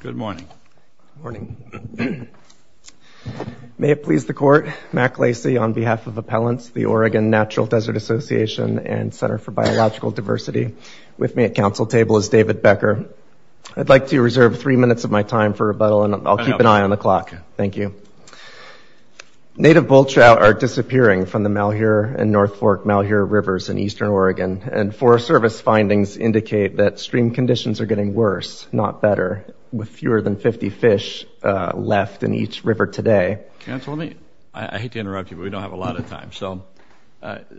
Good morning. May it please the court, Mack Lacey on behalf of Appellants, the Oregon Natural Desert Association and Center for Biological Diversity. With me at council table is David Becker. I'd like to reserve three minutes of my time for rebuttal and I'll keep an eye on the clock. Thank you. Native bull trout are disappearing from the Malheur and North Fork Malheur with fewer than 50 fish left in each river today. Councilman, I hate to interrupt you but we don't have a lot of time. So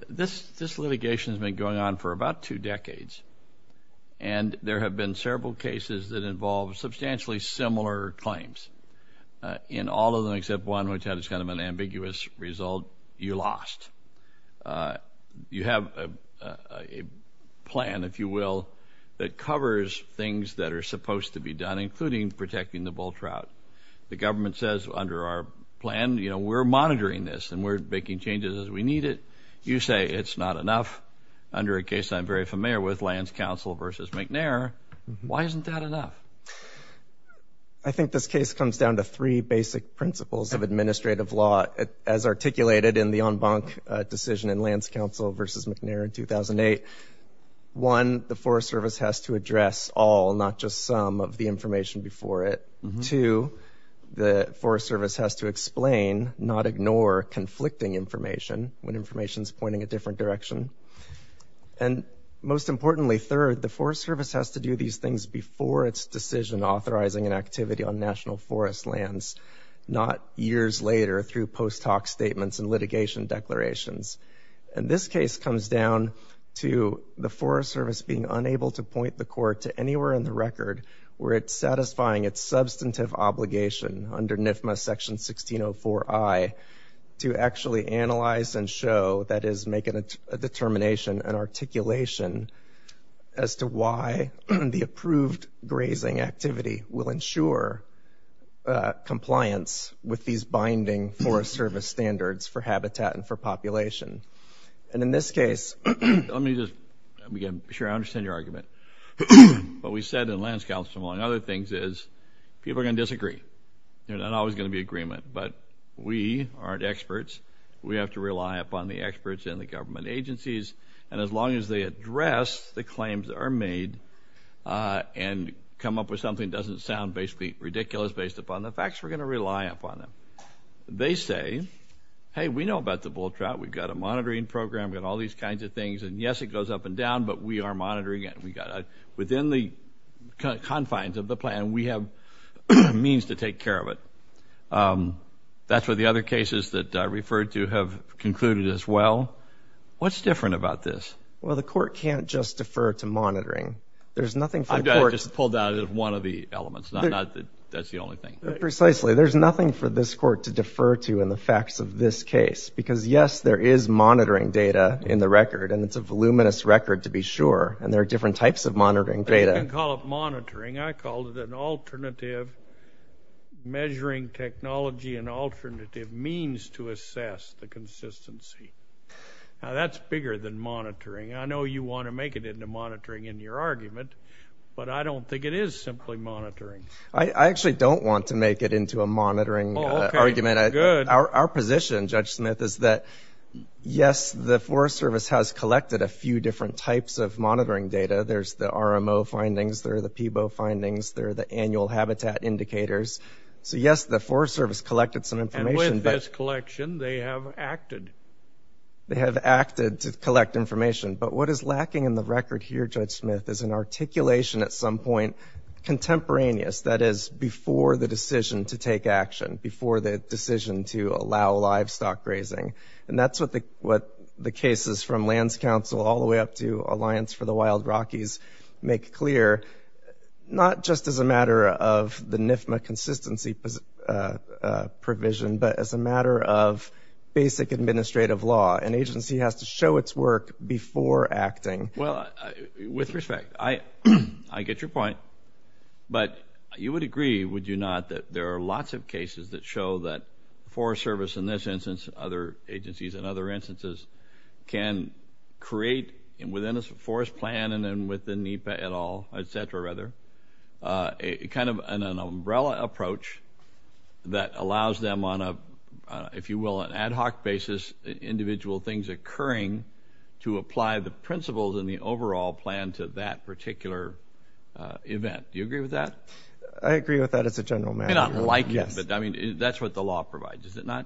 this this litigation has been going on for about two decades and there have been several cases that involve substantially similar claims. In all of them except one which had it's kind of an ambiguous result, you lost. You have a plan, if you will, that covers things that are supposed to be done including protecting the bull trout. The government says under our plan, you know, we're monitoring this and we're making changes as we need it. You say it's not enough under a case I'm very familiar with, Lands Council versus McNair. Why isn't that enough? I think this case comes down to three basic principles of administrative law as articulated in the en banc decision in Lands Council versus McNair in 2008. One, the Forest Service has to address all, not just some, of the information before it. Two, the Forest Service has to explain, not ignore, conflicting information when information is pointing a different direction. And most importantly, third, the Forest Service has to do these things before its decision authorizing an activity on national forest lands, not years later through post hoc statements and litigation declarations. And this case comes down to the Forest Service being unable to point the court to anywhere in the record where it's satisfying its substantive obligation under NIFMA section 1604I to actually analyze and show, that is make it a determination, an articulation as to why the approved grazing activity will ensure compliance with these binding Forest Service standards for habitat and for population. And in this case, let me just, I'm sure I understand your argument, but we said in Lands Council among other things is, people are gonna disagree. There's not always gonna be agreement, but we aren't experts. We have to rely upon the experts in the government agencies, and as long as they address the claims that are made and come up with something that doesn't sound basically ridiculous based upon the facts, we're gonna rely upon them. They say, hey, we know about the bull trout, we've got a and down, but we are monitoring it. We got within the confines of the plan, we have means to take care of it. That's where the other cases that I referred to have concluded as well. What's different about this? Well, the court can't just defer to monitoring. There's nothing for the court. I just pulled out of one of the elements, not that that's the only thing. Precisely, there's nothing for this court to defer to in the facts of this case, because yes, there is monitoring data in the record, and it's a voluminous record to be sure, and there are different types of monitoring data. You can call it monitoring. I called it an alternative measuring technology, an alternative means to assess the consistency. Now, that's bigger than monitoring. I know you want to make it into monitoring in your argument, but I don't think it is simply monitoring. I actually don't want to make it into a monitoring argument. Our position, Judge Smith, is that yes, the Forest Service has collected a few different types of monitoring data. There's the RMO findings, there are the PBO findings, there are the annual habitat indicators. So yes, the Forest Service collected some information. And with this collection, they have acted. They have acted to collect information, but what is lacking in the record here, Judge Smith, is an articulation at some point contemporaneous, that is, before the decision to take action, before the cases from Lands Council all the way up to Alliance for the Wild Rockies make clear, not just as a matter of the NIFMA consistency provision, but as a matter of basic administrative law. An agency has to show its work before acting. Well, with respect, I get your point, but you would agree, would you not, that there are lots of cases that show that Forest Service in this instance, other agencies in other instances, can create within a forest plan and then within NEPA et al., etc., rather, a kind of an umbrella approach that allows them on a, if you will, an ad hoc basis, individual things occurring, to apply the principles and the overall plan to that particular event. Do you agree with that? I agree with that as a general matter. I mean, that's what the law provides, is it not?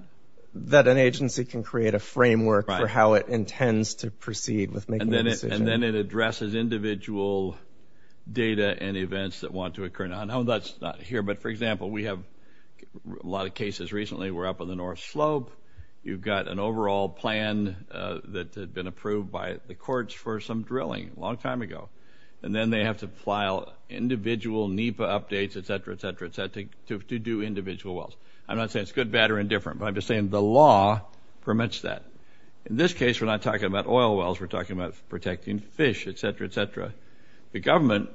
That an agency has to show its work for how it intends to proceed with making a decision. And then it addresses individual data and events that want to occur. Now, no, that's not here, but for example, we have a lot of cases recently, we're up on the North Slope, you've got an overall plan that had been approved by the courts for some drilling a long time ago, and then they have to file individual NEPA updates, etc., etc., etc., to do individual wells. I'm not saying it's good, bad, or In this case, we're not talking about oil wells, we're talking about protecting fish, etc., etc. The government,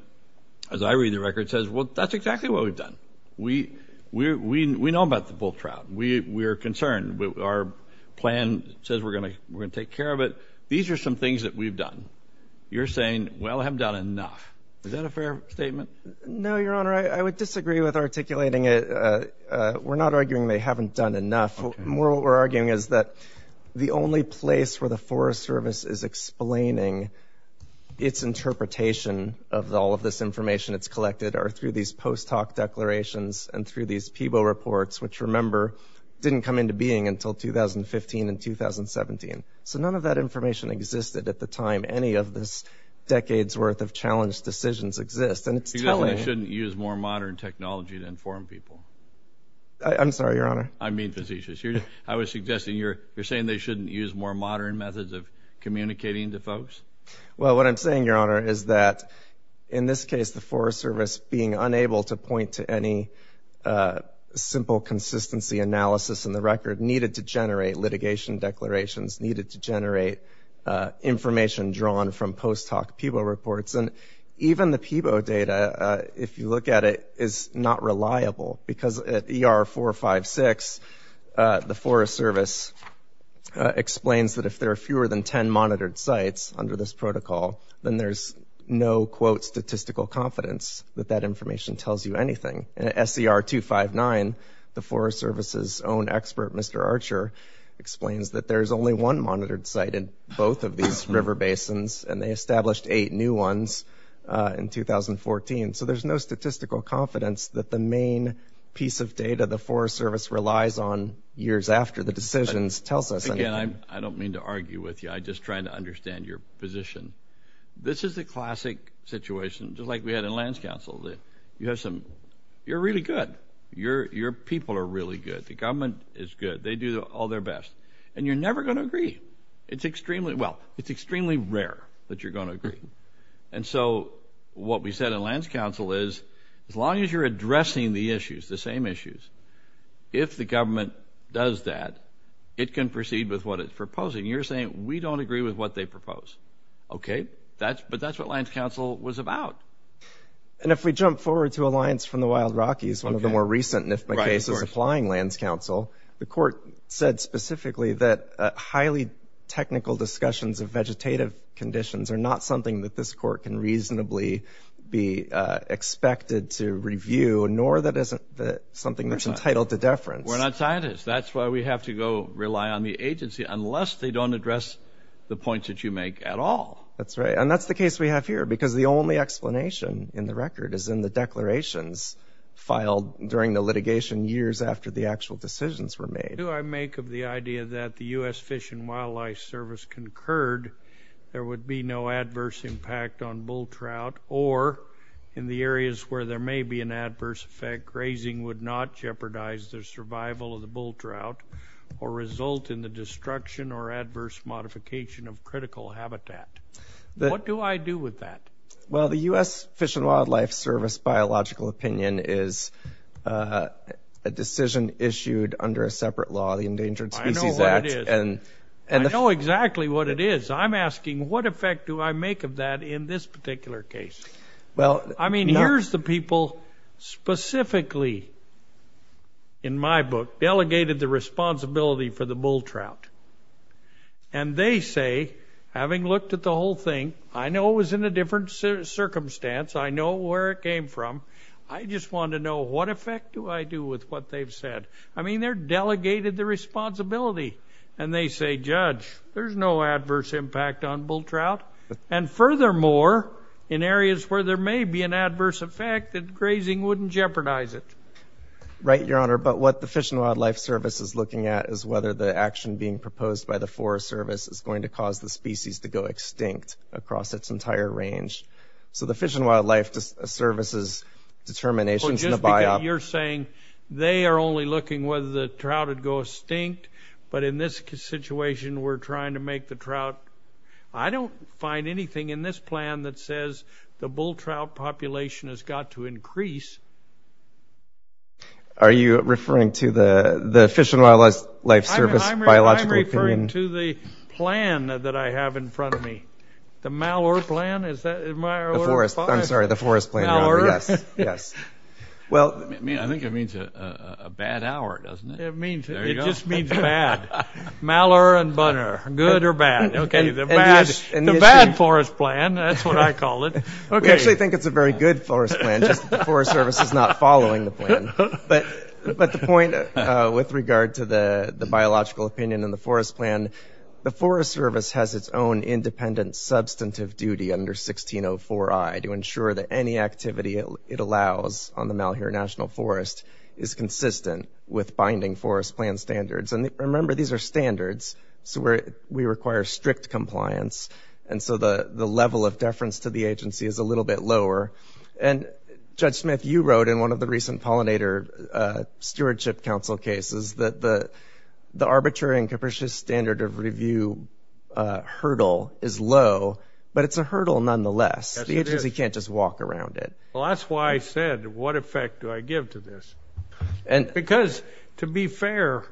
as I read the record, says, well, that's exactly what we've done. We know about the bull trout. We're concerned. Our plan says we're going to take care of it. These are some things that we've done. You're saying, well, I haven't done enough. Is that a fair statement? No, Your Honor. I would disagree with articulating it. We're not arguing they haven't done enough. What we're arguing is that the only place where the Forest Service is explaining its interpretation of all of this information it's collected are through these post hoc declarations and through these PBO reports, which, remember, didn't come into being until 2015 and 2017. So, none of that information existed at the time any of this decade's worth of challenged decisions exist, and it's telling. You shouldn't use more modern technology to I'm sorry, Your Honor. I mean, facetious. I was suggesting you're you're saying they shouldn't use more modern methods of communicating to folks. Well, what I'm saying, Your Honor, is that in this case the Forest Service being unable to point to any simple consistency analysis in the record needed to generate litigation declarations, needed to generate information drawn from post hoc PBO reports, and even the PBO data, if you look at it, is not reliable because at ER 456, the Forest Service explains that if there are fewer than 10 monitored sites under this protocol, then there's no quote statistical confidence that that information tells you anything. At SER 259, the Forest Service's own expert, Mr. Archer, explains that there's only one monitored site in both of these river basins, and they established eight new ones in 2014. So there's no statistical confidence that the main piece of data the Forest Service relies on years after the decisions tells us anything. Again, I don't mean to argue with you. I'm just trying to understand your position. This is a classic situation, just like we had in Lands Council. You have some, you're really good. Your people are really good. The government is good. They do all their best, and you're never going to agree. It's extremely, well, it's extremely rare that you're going to agree. And so, what we said in Lands Council is, as long as you're addressing the issues, the same issues, if the government does that, it can proceed with what it's proposing. You're saying, we don't agree with what they propose. Okay? That's, but that's what Lands Council was about. And if we jump forward to Alliance from the Wild Rockies, one of the more recent NIFMA cases applying Lands Council, the court said specifically that highly technical discussions of vegetative conditions are not something that this court can reasonably be expected to review, nor that isn't something that's entitled to deference. We're not scientists. That's why we have to go rely on the agency, unless they don't address the points that you make at all. That's right, and that's the case we have here, because the only explanation in the record is in the What do I make of the idea that the U.S. Fish and Wildlife Service concurred there would be no adverse impact on bull trout, or in the areas where there may be an adverse effect, grazing would not jeopardize the survival of the bull trout, or result in the destruction or adverse modification of critical habitat? What do I do with that? Well, the U.S. Fish and Wildlife Service biological opinion is a decision issued under a separate law, the Endangered Species Act. I know what it is. I know exactly what it is. I'm asking, what effect do I make of that in this particular case? Well, I mean, here's the people specifically, in my book, delegated the responsibility for the bull trout, and they say, having looked at the whole thing, I know it was in a different circumstance, I know where it came from, I just want to know what effect do I do with what they've said? I mean, they're delegated the responsibility, and they say, Judge, there's no adverse impact on bull trout, and furthermore, in areas where there may be an adverse effect, grazing wouldn't jeopardize it. Right, Your Honor, but what the Fish and Wildlife Service is looking at is whether the action being proposed by the Forest Service is going to cause the species to go extinct across its entire range. So the Fish and Wildlife Service's determinations in the biop... Just because you're saying they are only looking whether the trout would go extinct, but in this situation, we're trying to make the trout... I don't find anything in this plan that says the bull trout population has got to increase. Are you referring to the Fish and Wildlife Service biological opinion? I'm referring to the plan that I have in front of me. The Malheur plan? Is that my... The forest, I'm sorry, the forest plan. Malheur? Yes, yes. Well... I mean, I think it means a bad hour, doesn't it? It means... There you go. It just means bad. Malheur and Bunner, good or bad? Okay, the bad forest plan, that's what I call it. Okay. We actually think it's a very good forest plan, just that the Forest Service is not following the plan. But the point with regard to the biological opinion and the forest plan, the Forest Service has its own independent substantive duty under 16.04i to ensure that any activity it allows on the Malheur National Forest is consistent with binding forest plan standards. And remember, these are standards, so we require strict compliance. And so the level of deference to the agency is a little bit lower. And Judge Smith, you wrote in one of the recent pollinator stewardship council cases that the arbitrary and capricious standard of review hurdle is low, but it's a hurdle nonetheless. The agency can't just walk around it. Well, that's why I said, what effect do I give to this? Because to be fair,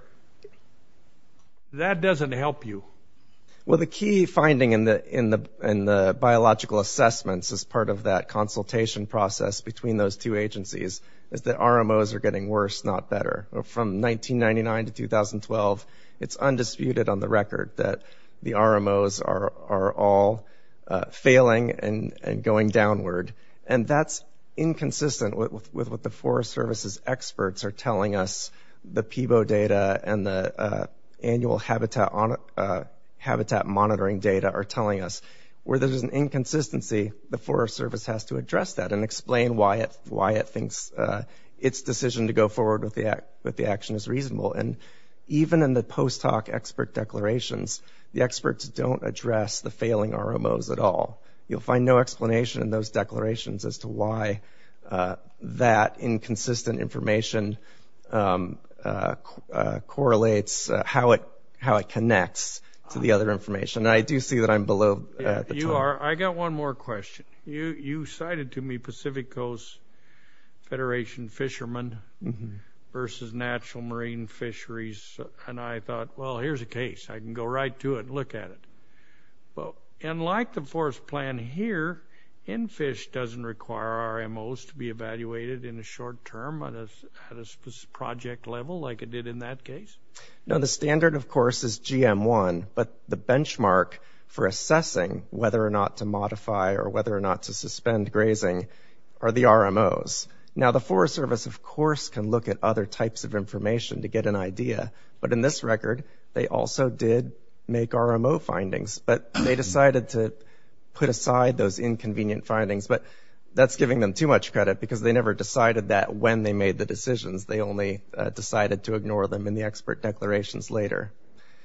that doesn't help you. Well, the key finding in the biological assessments as part of that consultation process between those two agencies is that RMOs are getting worse, not better. From 1999 to 2012, it's undisputed on the record that the RMOs are all failing and going downward. And that's inconsistent with what the Forest Service's experts are telling us, the PBO data and the annual habitat monitoring data are telling us. Where there's an inconsistency, the Forest Service has to address that and explain why it thinks its decision to go forward with the action is reasonable. And even in the post hoc expert declarations, the experts don't address the failing RMOs at all. You'll find no explanation in those declarations as to why that inconsistent information correlates, how it connects to the other information. And I do see that I'm below. You are. I got one more question. You cited to me Pacific Coast Federation fishermen versus natural marine fisheries. And I thought, well, here's a case I can go right to it and look at it. And like the forest plan here, NFISH doesn't require RMOs to be evaluated in the short term on a project level like it did in that case? No, the standard, of course, is GM1. But the whether or not to modify or whether or not to suspend grazing are the RMOs. Now, the Forest Service, of course, can look at other types of information to get an idea. But in this record, they also did make RMO findings. But they decided to put aside those inconvenient findings. But that's giving them too much credit because they never decided that when they made the decisions. They only decided to ignore them in the expert declarations later.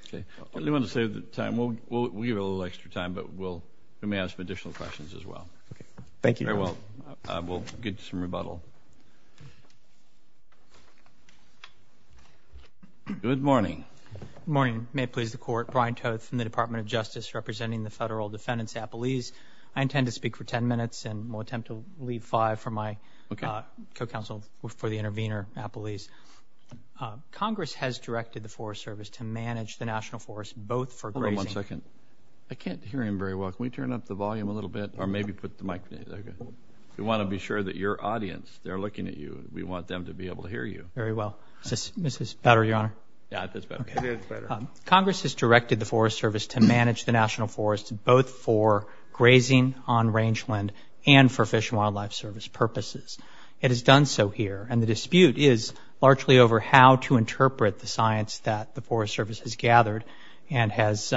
Okay. I didn't want to save the time. We'll give you a little extra time. But we may have some additional questions as well. Okay. Thank you. Very well. We'll give you some rebuttal. Good morning. Good morning. May it please the Court. Brian Toth from the Department of Justice representing the Federal Defendants Appellees. I intend to speak for 10 minutes. And we'll attempt to leave five for my co-counsel for the intervener appellees. Congress has directed the Forest Service to manage the National Forest both for grazing. Hold on one second. I can't hear him very well. Can we turn up the volume a little bit? Or maybe put the mic down? Okay. We want to be sure that your audience, they're looking at you. We want them to be able to hear you. Very well. Is this better, Your Honor? Yeah, it is better. It is better. Congress has directed the Forest Service to manage the National Forest both for grazing on rangeland and for Fish and Wildlife Service purposes. It has done so here. And the Forest Service has gathered and has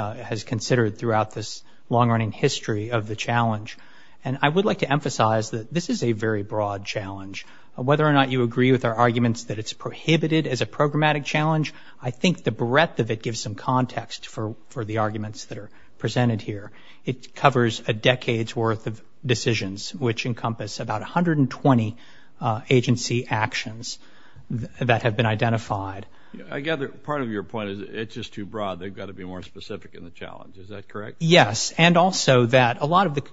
considered throughout this long-running history of the challenge. And I would like to emphasize that this is a very broad challenge. Whether or not you agree with our arguments that it's prohibited as a programmatic challenge, I think the breadth of it gives some context for the arguments that are presented here. It covers a decade's worth of decisions, which encompass about 120 agency actions that have been identified. I gather part of your point is it's just too broad. They've got to be more specific in the challenge. Is that correct? Yes. And also that a lot of the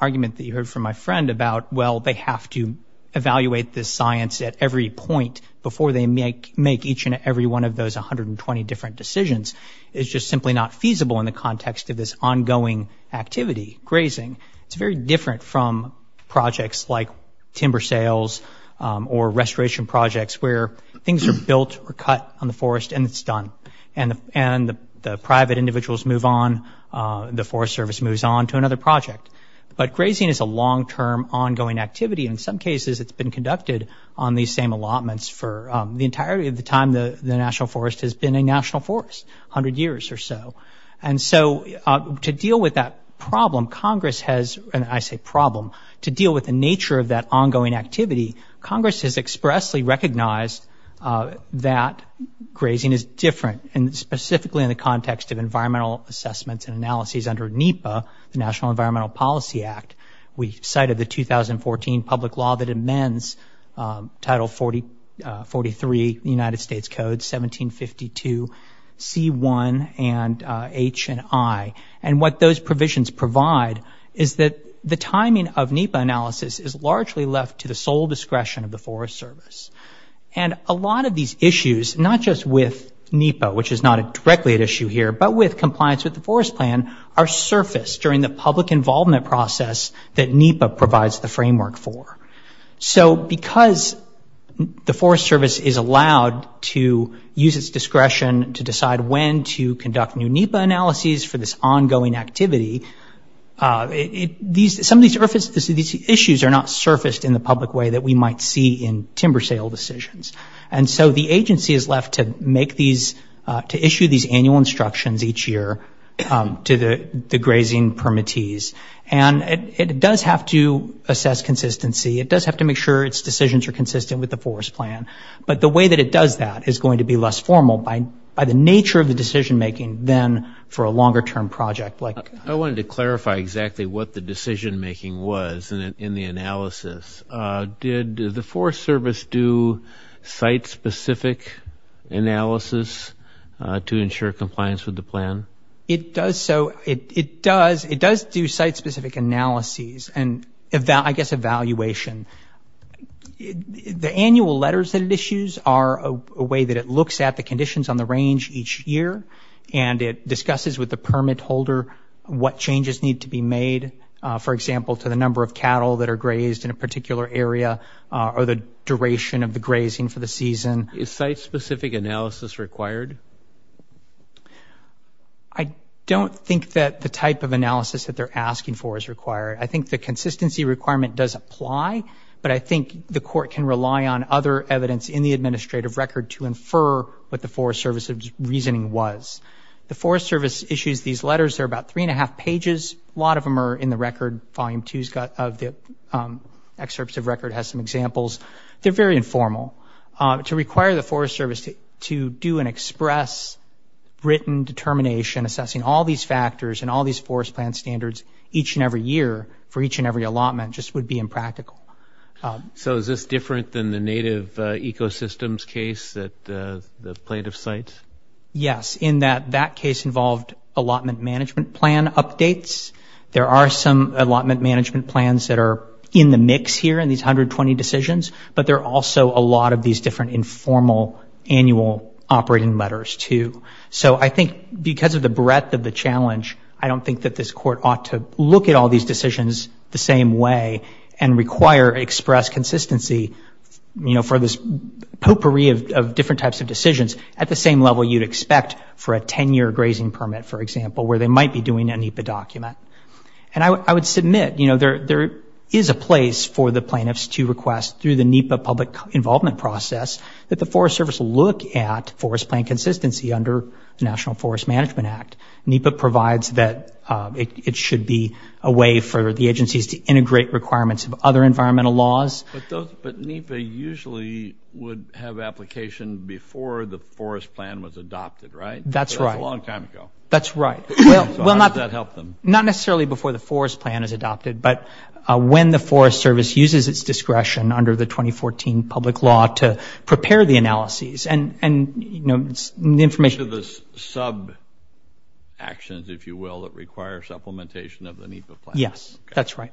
argument that you heard from my friend about, well, they have to evaluate this science at every point before they make each and every one of those 120 different decisions is just simply not feasible in the context of this ongoing activity, grazing. It's very different from projects like timber sales or restoration projects where things are built or cut on the forest and it's done. And the private individuals move on. The Forest Service moves on to another project. But grazing is a long-term ongoing activity. In some cases, it's been conducted on these same allotments for the entirety of the time the National Forest has been a national forest, 100 years or so. And so to deal with that problem, Congress has, and I say problem, to deal with the nature of that ongoing activity, Congress has expressly recognized that grazing is different, and specifically in the context of environmental assessments and analyses under NEPA, the National Environmental Policy Act. We cited the 2014 public law that amends Title 43 United States Code 1752 C1 and H and I. And what those provisions provide is that the timing of NEPA analysis is largely left to the full discretion of the Forest Service. And a lot of these issues, not just with NEPA, which is not directly an issue here, but with compliance with the Forest Plan, are surfaced during the public involvement process that NEPA provides the framework for. So because the Forest Service is allowed to use its discretion to decide when to conduct new NEPA analyses for this ongoing activity, some of these issues are not surfaced in the public way that we might see in timber sale decisions. And so the agency is left to issue these annual instructions each year to the grazing permittees. And it does have to assess consistency, it does have to make sure its decisions are consistent with the Forest Plan, but the way that it does that is going to less formal by the nature of the decision-making than for a longer-term project like... I wanted to clarify exactly what the decision-making was in the analysis. Did the Forest Service do site-specific analysis to ensure compliance with the plan? It does so, it does, it does do site-specific analyses and I guess evaluation. The annual letters that it issues are a way that it looks at the conditions on the range each year and it discusses with the permit holder what changes need to be made, for example, to the number of cattle that are grazed in a particular area or the duration of the grazing for the season. Is site-specific analysis required? I don't think that the type of analysis that they're asking for is required. I think the court can rely on other evidence in the administrative record to infer what the Forest Service's reasoning was. The Forest Service issues these letters. They're about three and a half pages. A lot of them are in the record. Volume 2 of the excerpts of record has some examples. They're very informal. To require the Forest Service to do an express written determination assessing all these factors and all these Forest Plan standards each and every year for each and every allotment just would be impractical. So is this different than the Native Ecosystems case that the plaintiff cites? Yes, in that that case involved allotment management plan updates. There are some allotment management plans that are in the mix here in these 120 decisions, but there are also a lot of these different informal annual operating letters too. So I think because of the breadth of the challenge, I don't think that this court ought to at all these decisions the same way and require express consistency for this potpourri of different types of decisions at the same level you'd expect for a 10-year grazing permit, for example, where they might be doing a NEPA document. And I would submit there is a place for the plaintiffs to request through the NEPA public involvement process that the Forest Service look at Forest Plan consistency under the National Forest Management Act. NEPA provides that it should be a way for the agencies to integrate requirements of other environmental laws. But NEPA usually would have application before the Forest Plan was adopted, right? That's right. That's a long time ago. That's right. So how does that help them? Not necessarily before the Forest Plan is adopted, but when the Forest Service uses its discretion under the 2014 public law to prepare the analyses and, you know, the information... Actions, if you will, that require supplementation of the NEPA plan. Yes, that's right.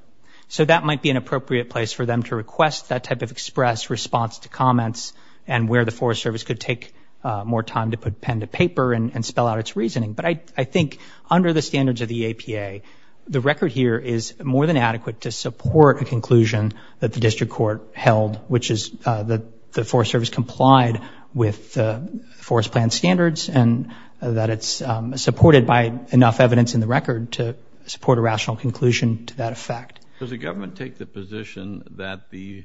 So that might be an appropriate place for them to request that type of express response to comments and where the Forest Service could take more time to put pen to paper and spell out its reasoning. But I think under the standards of the APA, the record here is more than adequate to support a conclusion that the District Court held, which is that the Forest Service complied with the Forest Plan standards and that it's supported by enough evidence in the record to support a rational conclusion to that effect. Does the government take the position that the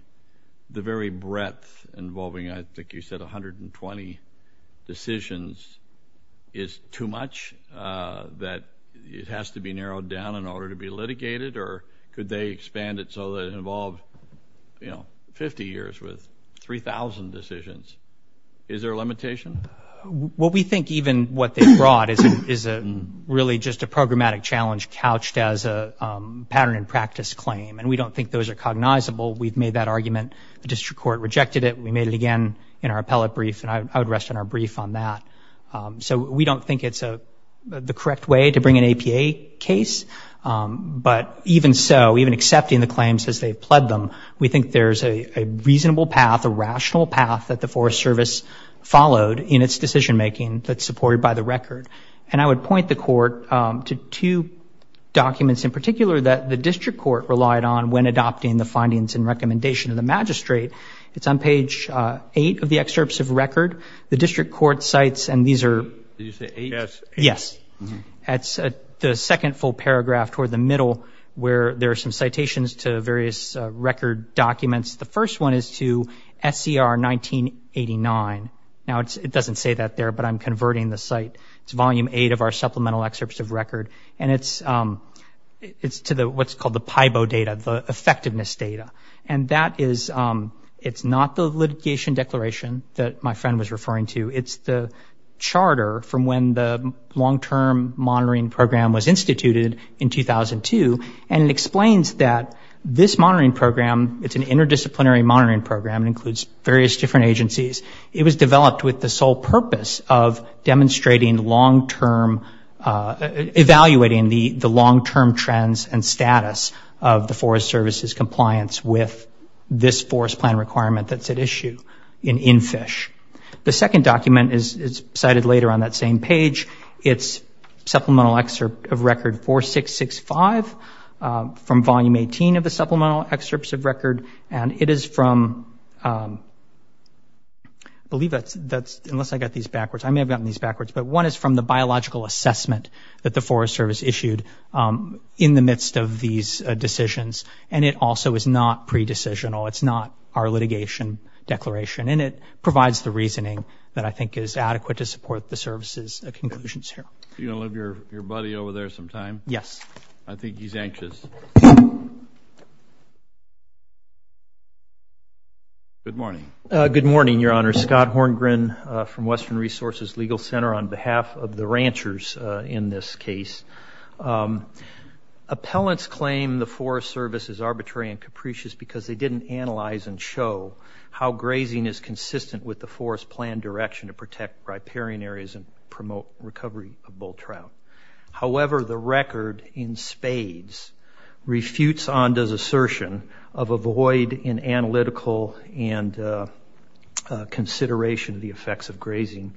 very breadth involving, I think you said, 120 decisions is too much? That it has to be narrowed down in order to be litigated? Or could they expand it so that it involved, you know, 50 years with 3,000 decisions? Is there a limitation? Well, we think even what they brought is really just a programmatic challenge couched as a pattern and practice claim. And we don't think those are cognizable. We've made that argument. The District Court rejected it. We made it again in our appellate brief. And I would rest on our brief on that. So we don't think it's the correct way to bring an APA case. But even so, even accepting the claims as they've pled them, we think there's a reasonable path, a rational path that the Forest Service followed in its decision making that's supported by the record. And I would point the Court to two documents in particular that the District Court relied on when adopting the findings and recommendation of the magistrate. It's on page 8 of the excerpts of record. The District Court cites, and these are... Did you say 8? Yes. That's the second full paragraph toward the middle where there are some citations to various record documents. The first one is to SCR 1989. Now, it doesn't say that there, but I'm converting the site. It's volume 8 of our supplemental excerpts of record. And it's to what's called the PIBO data, the effectiveness data. And that is, it's not the litigation declaration that my friend was referring to. It's the charter from when the long-term monitoring program was instituted in 2002. And it explains that this monitoring program, it's an interdisciplinary monitoring program. It includes various different agencies. It was developed with the sole purpose of demonstrating long-term, evaluating the long-term trends and status of the Forest Service's compliance with this forest plan requirement that's at issue in NFISH. The second document is cited later on that same page. It's supplemental excerpt of record 4665 from volume 18 of the supplemental excerpts of record. And it is from... I believe that's... Unless I got these backwards. I may have gotten these backwards. But one is from the biological assessment that the Forest Service issued in the midst of these decisions. And it also is not pre-decisional. It's not our litigation declaration. And it provides the reasoning that I think is adequate to support the Service's conclusions here. You going to leave your buddy over there some time? Yes. I think he's anxious. Good morning. Good morning, Your Honor. Scott Horngren from Western Resources Legal Center on behalf of the ranchers in this case. Appellants claim the Forest Service is arbitrary and capricious because they didn't analyze and show how grazing is consistent with the forest plan direction to protect riparian areas and promote recovery of bull trout. However, the record in spades refutes Onda's assertion of a void in analytical and consideration of the effects of grazing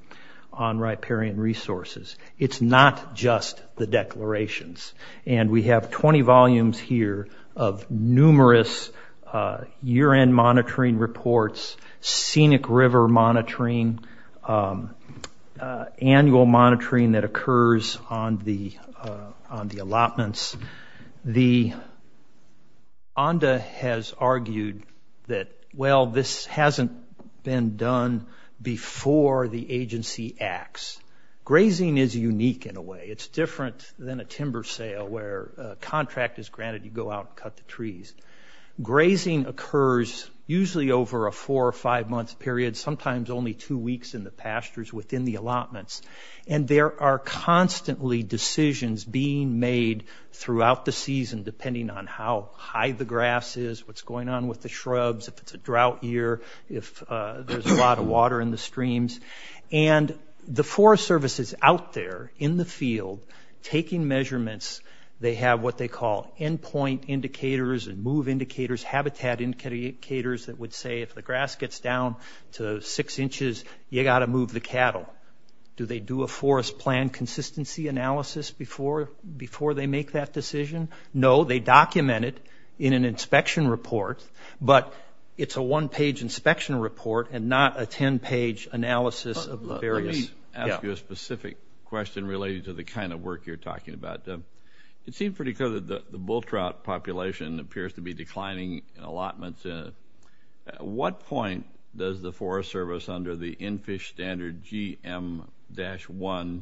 on riparian resources. It's not just the declarations. And we have 20 volumes here of numerous year-end monitoring reports, scenic river monitoring, annual monitoring that occurs on the allotments. The Onda has argued that, well, this hasn't been done before the agency acts. It's different than a timber sale where a contract is granted. You go out and cut the trees. Grazing occurs usually over a four or five-month period, sometimes only two weeks in the pastures within the allotments. And there are constantly decisions being made throughout the season depending on how high the grass is, what's going on with the shrubs, if it's a drought year, if there's a lot of water in the streams. And the Forest Service is out there in the field taking measurements. They have what they call endpoint indicators and move indicators, habitat indicators that would say if the grass gets down to six inches, you got to move the cattle. Do they do a forest plan consistency analysis before they make that decision? No, they document it in an inspection report, but it's a one-page inspection report and not a 10-page analysis of the various... Let me ask you a specific question related to the kind of work you're talking about. It seemed pretty clear that the bull trout population appears to be declining in allotments. At what point does the Forest Service, under the in-fish standard GM-1,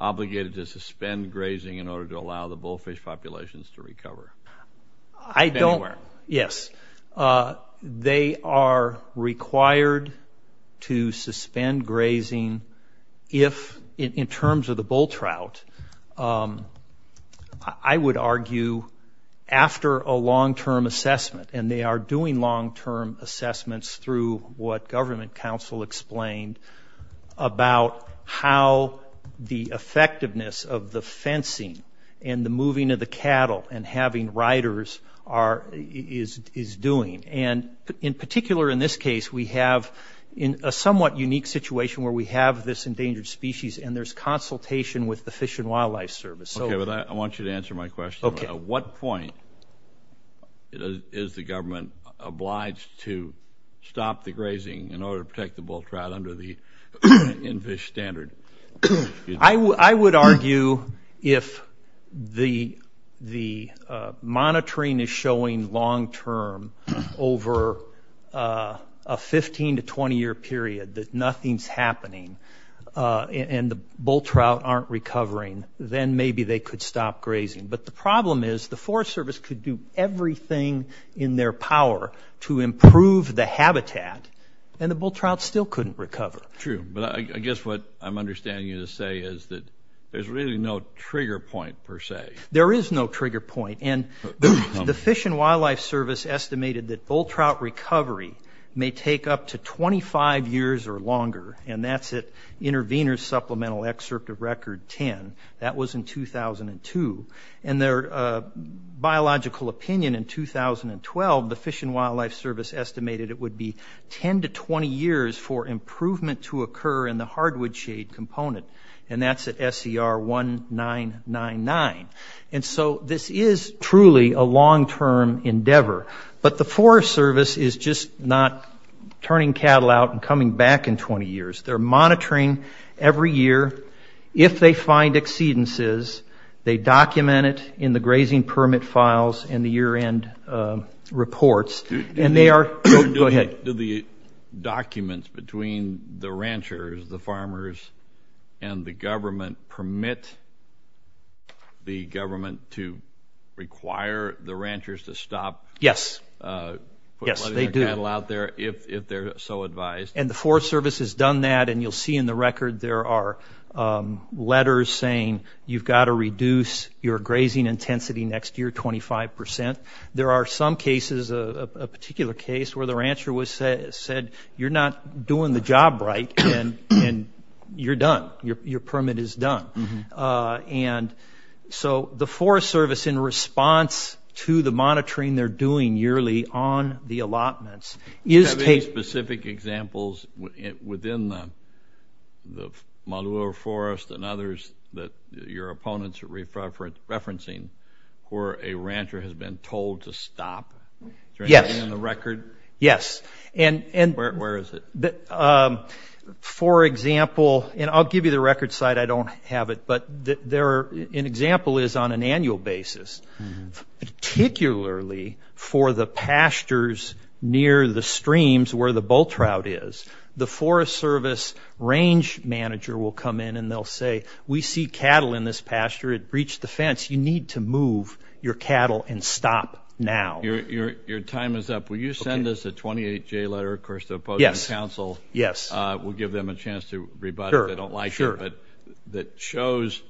obligated to suspend grazing in order to allow the bullfish populations to recover? I don't... Anywhere? Yes. They are required to suspend grazing if, in terms of the bull trout, I would argue after a long-term assessment, and they are doing long-term assessments through what government council explained about how the effectiveness of the fencing and the moving of the cattle and having riders is doing. And in particular, in this case, we have a somewhat unique situation where we have this endangered species and there's consultation with the Fish and Wildlife Service. Okay, but I want you to answer my question. Okay. At what point is the government obliged to stop the grazing in order to protect the bull trout under the in-fish standard? I would argue if the monitoring is showing long-term over a 15- to 20-year period that nothing's happening and the bull trout aren't recovering, then maybe they could stop grazing. But the problem is the Forest Service could do everything in their power to improve the habitat, and the bull trout still couldn't recover. True. But I guess what I'm understanding you to say is that there's really no trigger point, per se. There is no trigger point. And the Fish and Wildlife Service estimated that bull trout recovery may take up to 25 years or longer, and that's at Intervenors Supplemental Excerpt of Record 10. That was in 2002. And their biological opinion in 2012, the Fish and Wildlife Service estimated it would be 10 to 20 years for improvement to occur in the hardwood shade component, and that's at SER 19999. And so this is truly a long-term endeavor. But the Forest Service is just not turning cattle out and coming back in 20 years. They're monitoring every year. If they find exceedances, they document it in the grazing permit files and the year-end reports. And they are – go ahead. Do the documents between the ranchers, the farmers, and the government permit the government to require the ranchers to stop putting their cattle out there if they're so advised? And the Forest Service has done that, and you'll see in the record there are letters saying you've got to reduce your grazing intensity next year 25 percent. There are some cases, a particular case, where the rancher was said, you're not doing the job right, and you're done. Your permit is done. And so the Forest Service, in response to the monitoring they're doing yearly on the allotments, is taking – Do you have any specific examples within the Maluwa Forest and others that your opponents are referencing where a rancher has been told to stop? Yes. Is there anything in the record? Yes. And – Where is it? For example – and I'll give you the record site. I don't have it. But there are – an example is on an annual basis. Particularly for the pastures near the streams where the bull trout is, the Forest Service range manager will come in and they'll say, we see cattle in this pasture. It breached the fence. You need to move your cattle and stop now. Your time is up. Will you send us a 28-J letter, of course, to the opposing council? Yes. We'll give them a chance to rebut it if they don't like it. Sure. But that shows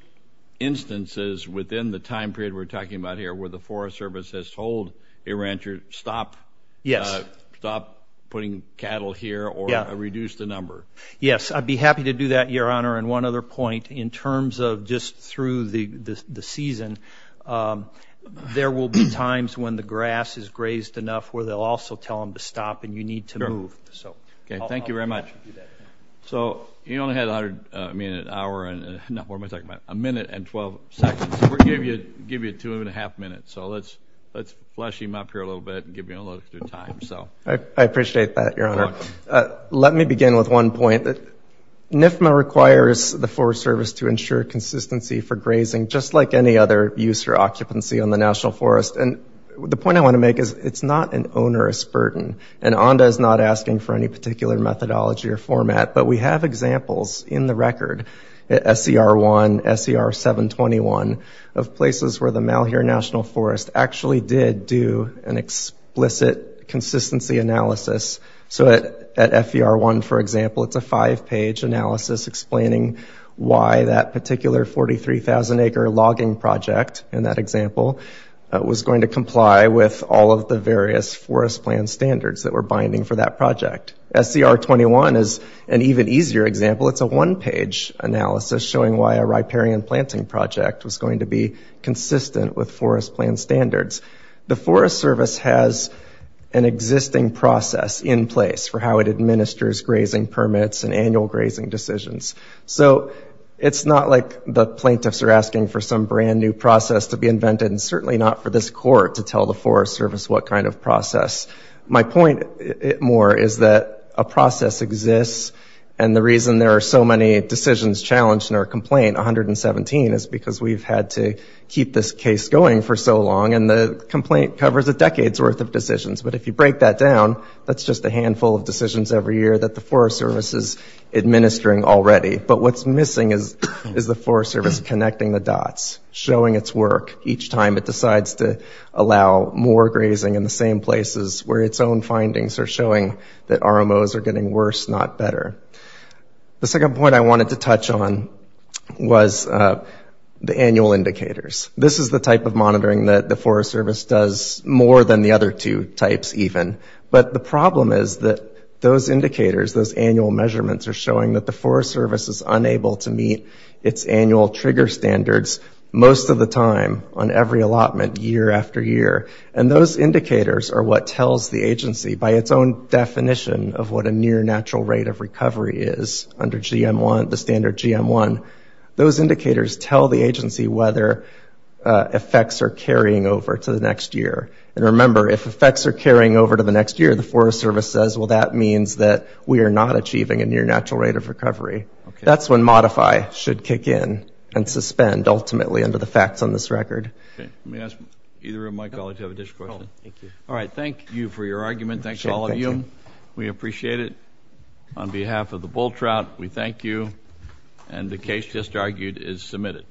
instances within the time period we're talking about here where the Forest Service has told a rancher, stop putting cattle here or reduce the number. Yes. I'd be happy to do that, Your Honor. And one other point, in terms of just through the season, there will be times when the grass is grazed enough where they'll also tell them to stop and you need to move. Sure. Okay. Thank you very much. So he only had 100 – I mean, an hour and – no, what am I talking about? A minute and 12 seconds. We'll give you two and a half minutes. So let's flush him up here a little bit and give you a little bit of time. I appreciate that, Your Honor. Let me begin with one point. NFMA requires the Forest Service to ensure consistency for grazing, just like any other use or occupancy on the National Forest. And the point I want to make is, it's not an onerous burden. And ONDA is not asking for any particular methodology or format, but we have examples in the record at SCR1, SCR721 of places where the Malheur National Forest actually did do an explicit consistency analysis. So at FER1, for example, it's a five-page analysis explaining why that particular 43,000-acre logging project in that example was going to comply with all of the various forest plan standards that were binding for that project. SCR21 is an even easier example. It's a one-page analysis showing why a riparian planting project was going to be consistent with forest plan standards. The Forest Service has an existing process in place for how it administers grazing permits and annual grazing decisions. So it's not like the plaintiffs are asking for some brand new process to be invented, and certainly not for this Court to tell the Forest Service what kind of process. My point, more, is that a process exists. And the reason there are so many decisions challenged in our complaint, 117, is because we've had to keep this case going for so long. And the complaint covers a decade's worth of decisions. But if you break that down, that's just a handful of decisions every year that the Forest Service is administering already. But what's missing is the Forest Service connecting the dots, showing its work each time it decides to allow more grazing in the same places where its own findings are showing that RMOs are getting worse, not better. The second point I wanted to touch on was the annual indicators. This is the type of monitoring that the Forest Service does more than the other two types, even. But the problem is that those indicators, those annual measurements, are showing that the Forest Service is unable to meet its annual trigger standards most of the time on every allotment year after year. And those indicators are what tells the agency, by its own definition of what a near natural rate of recovery is under GM1, the standard GM1, those indicators tell the agency whether effects are carrying over to the next year. And remember, if effects are carrying over to the next year, the Forest Service says, well, that means that we are not achieving a near natural rate of recovery. That's when modify should kick in and suspend, ultimately, under the facts on this record. OK. Let me ask either of my colleagues to have an additional question. Thank you. All right. Thank you for your argument. Thanks to all of you. We appreciate it. On behalf of the bull trout, we thank you. And the case just argued is submitted.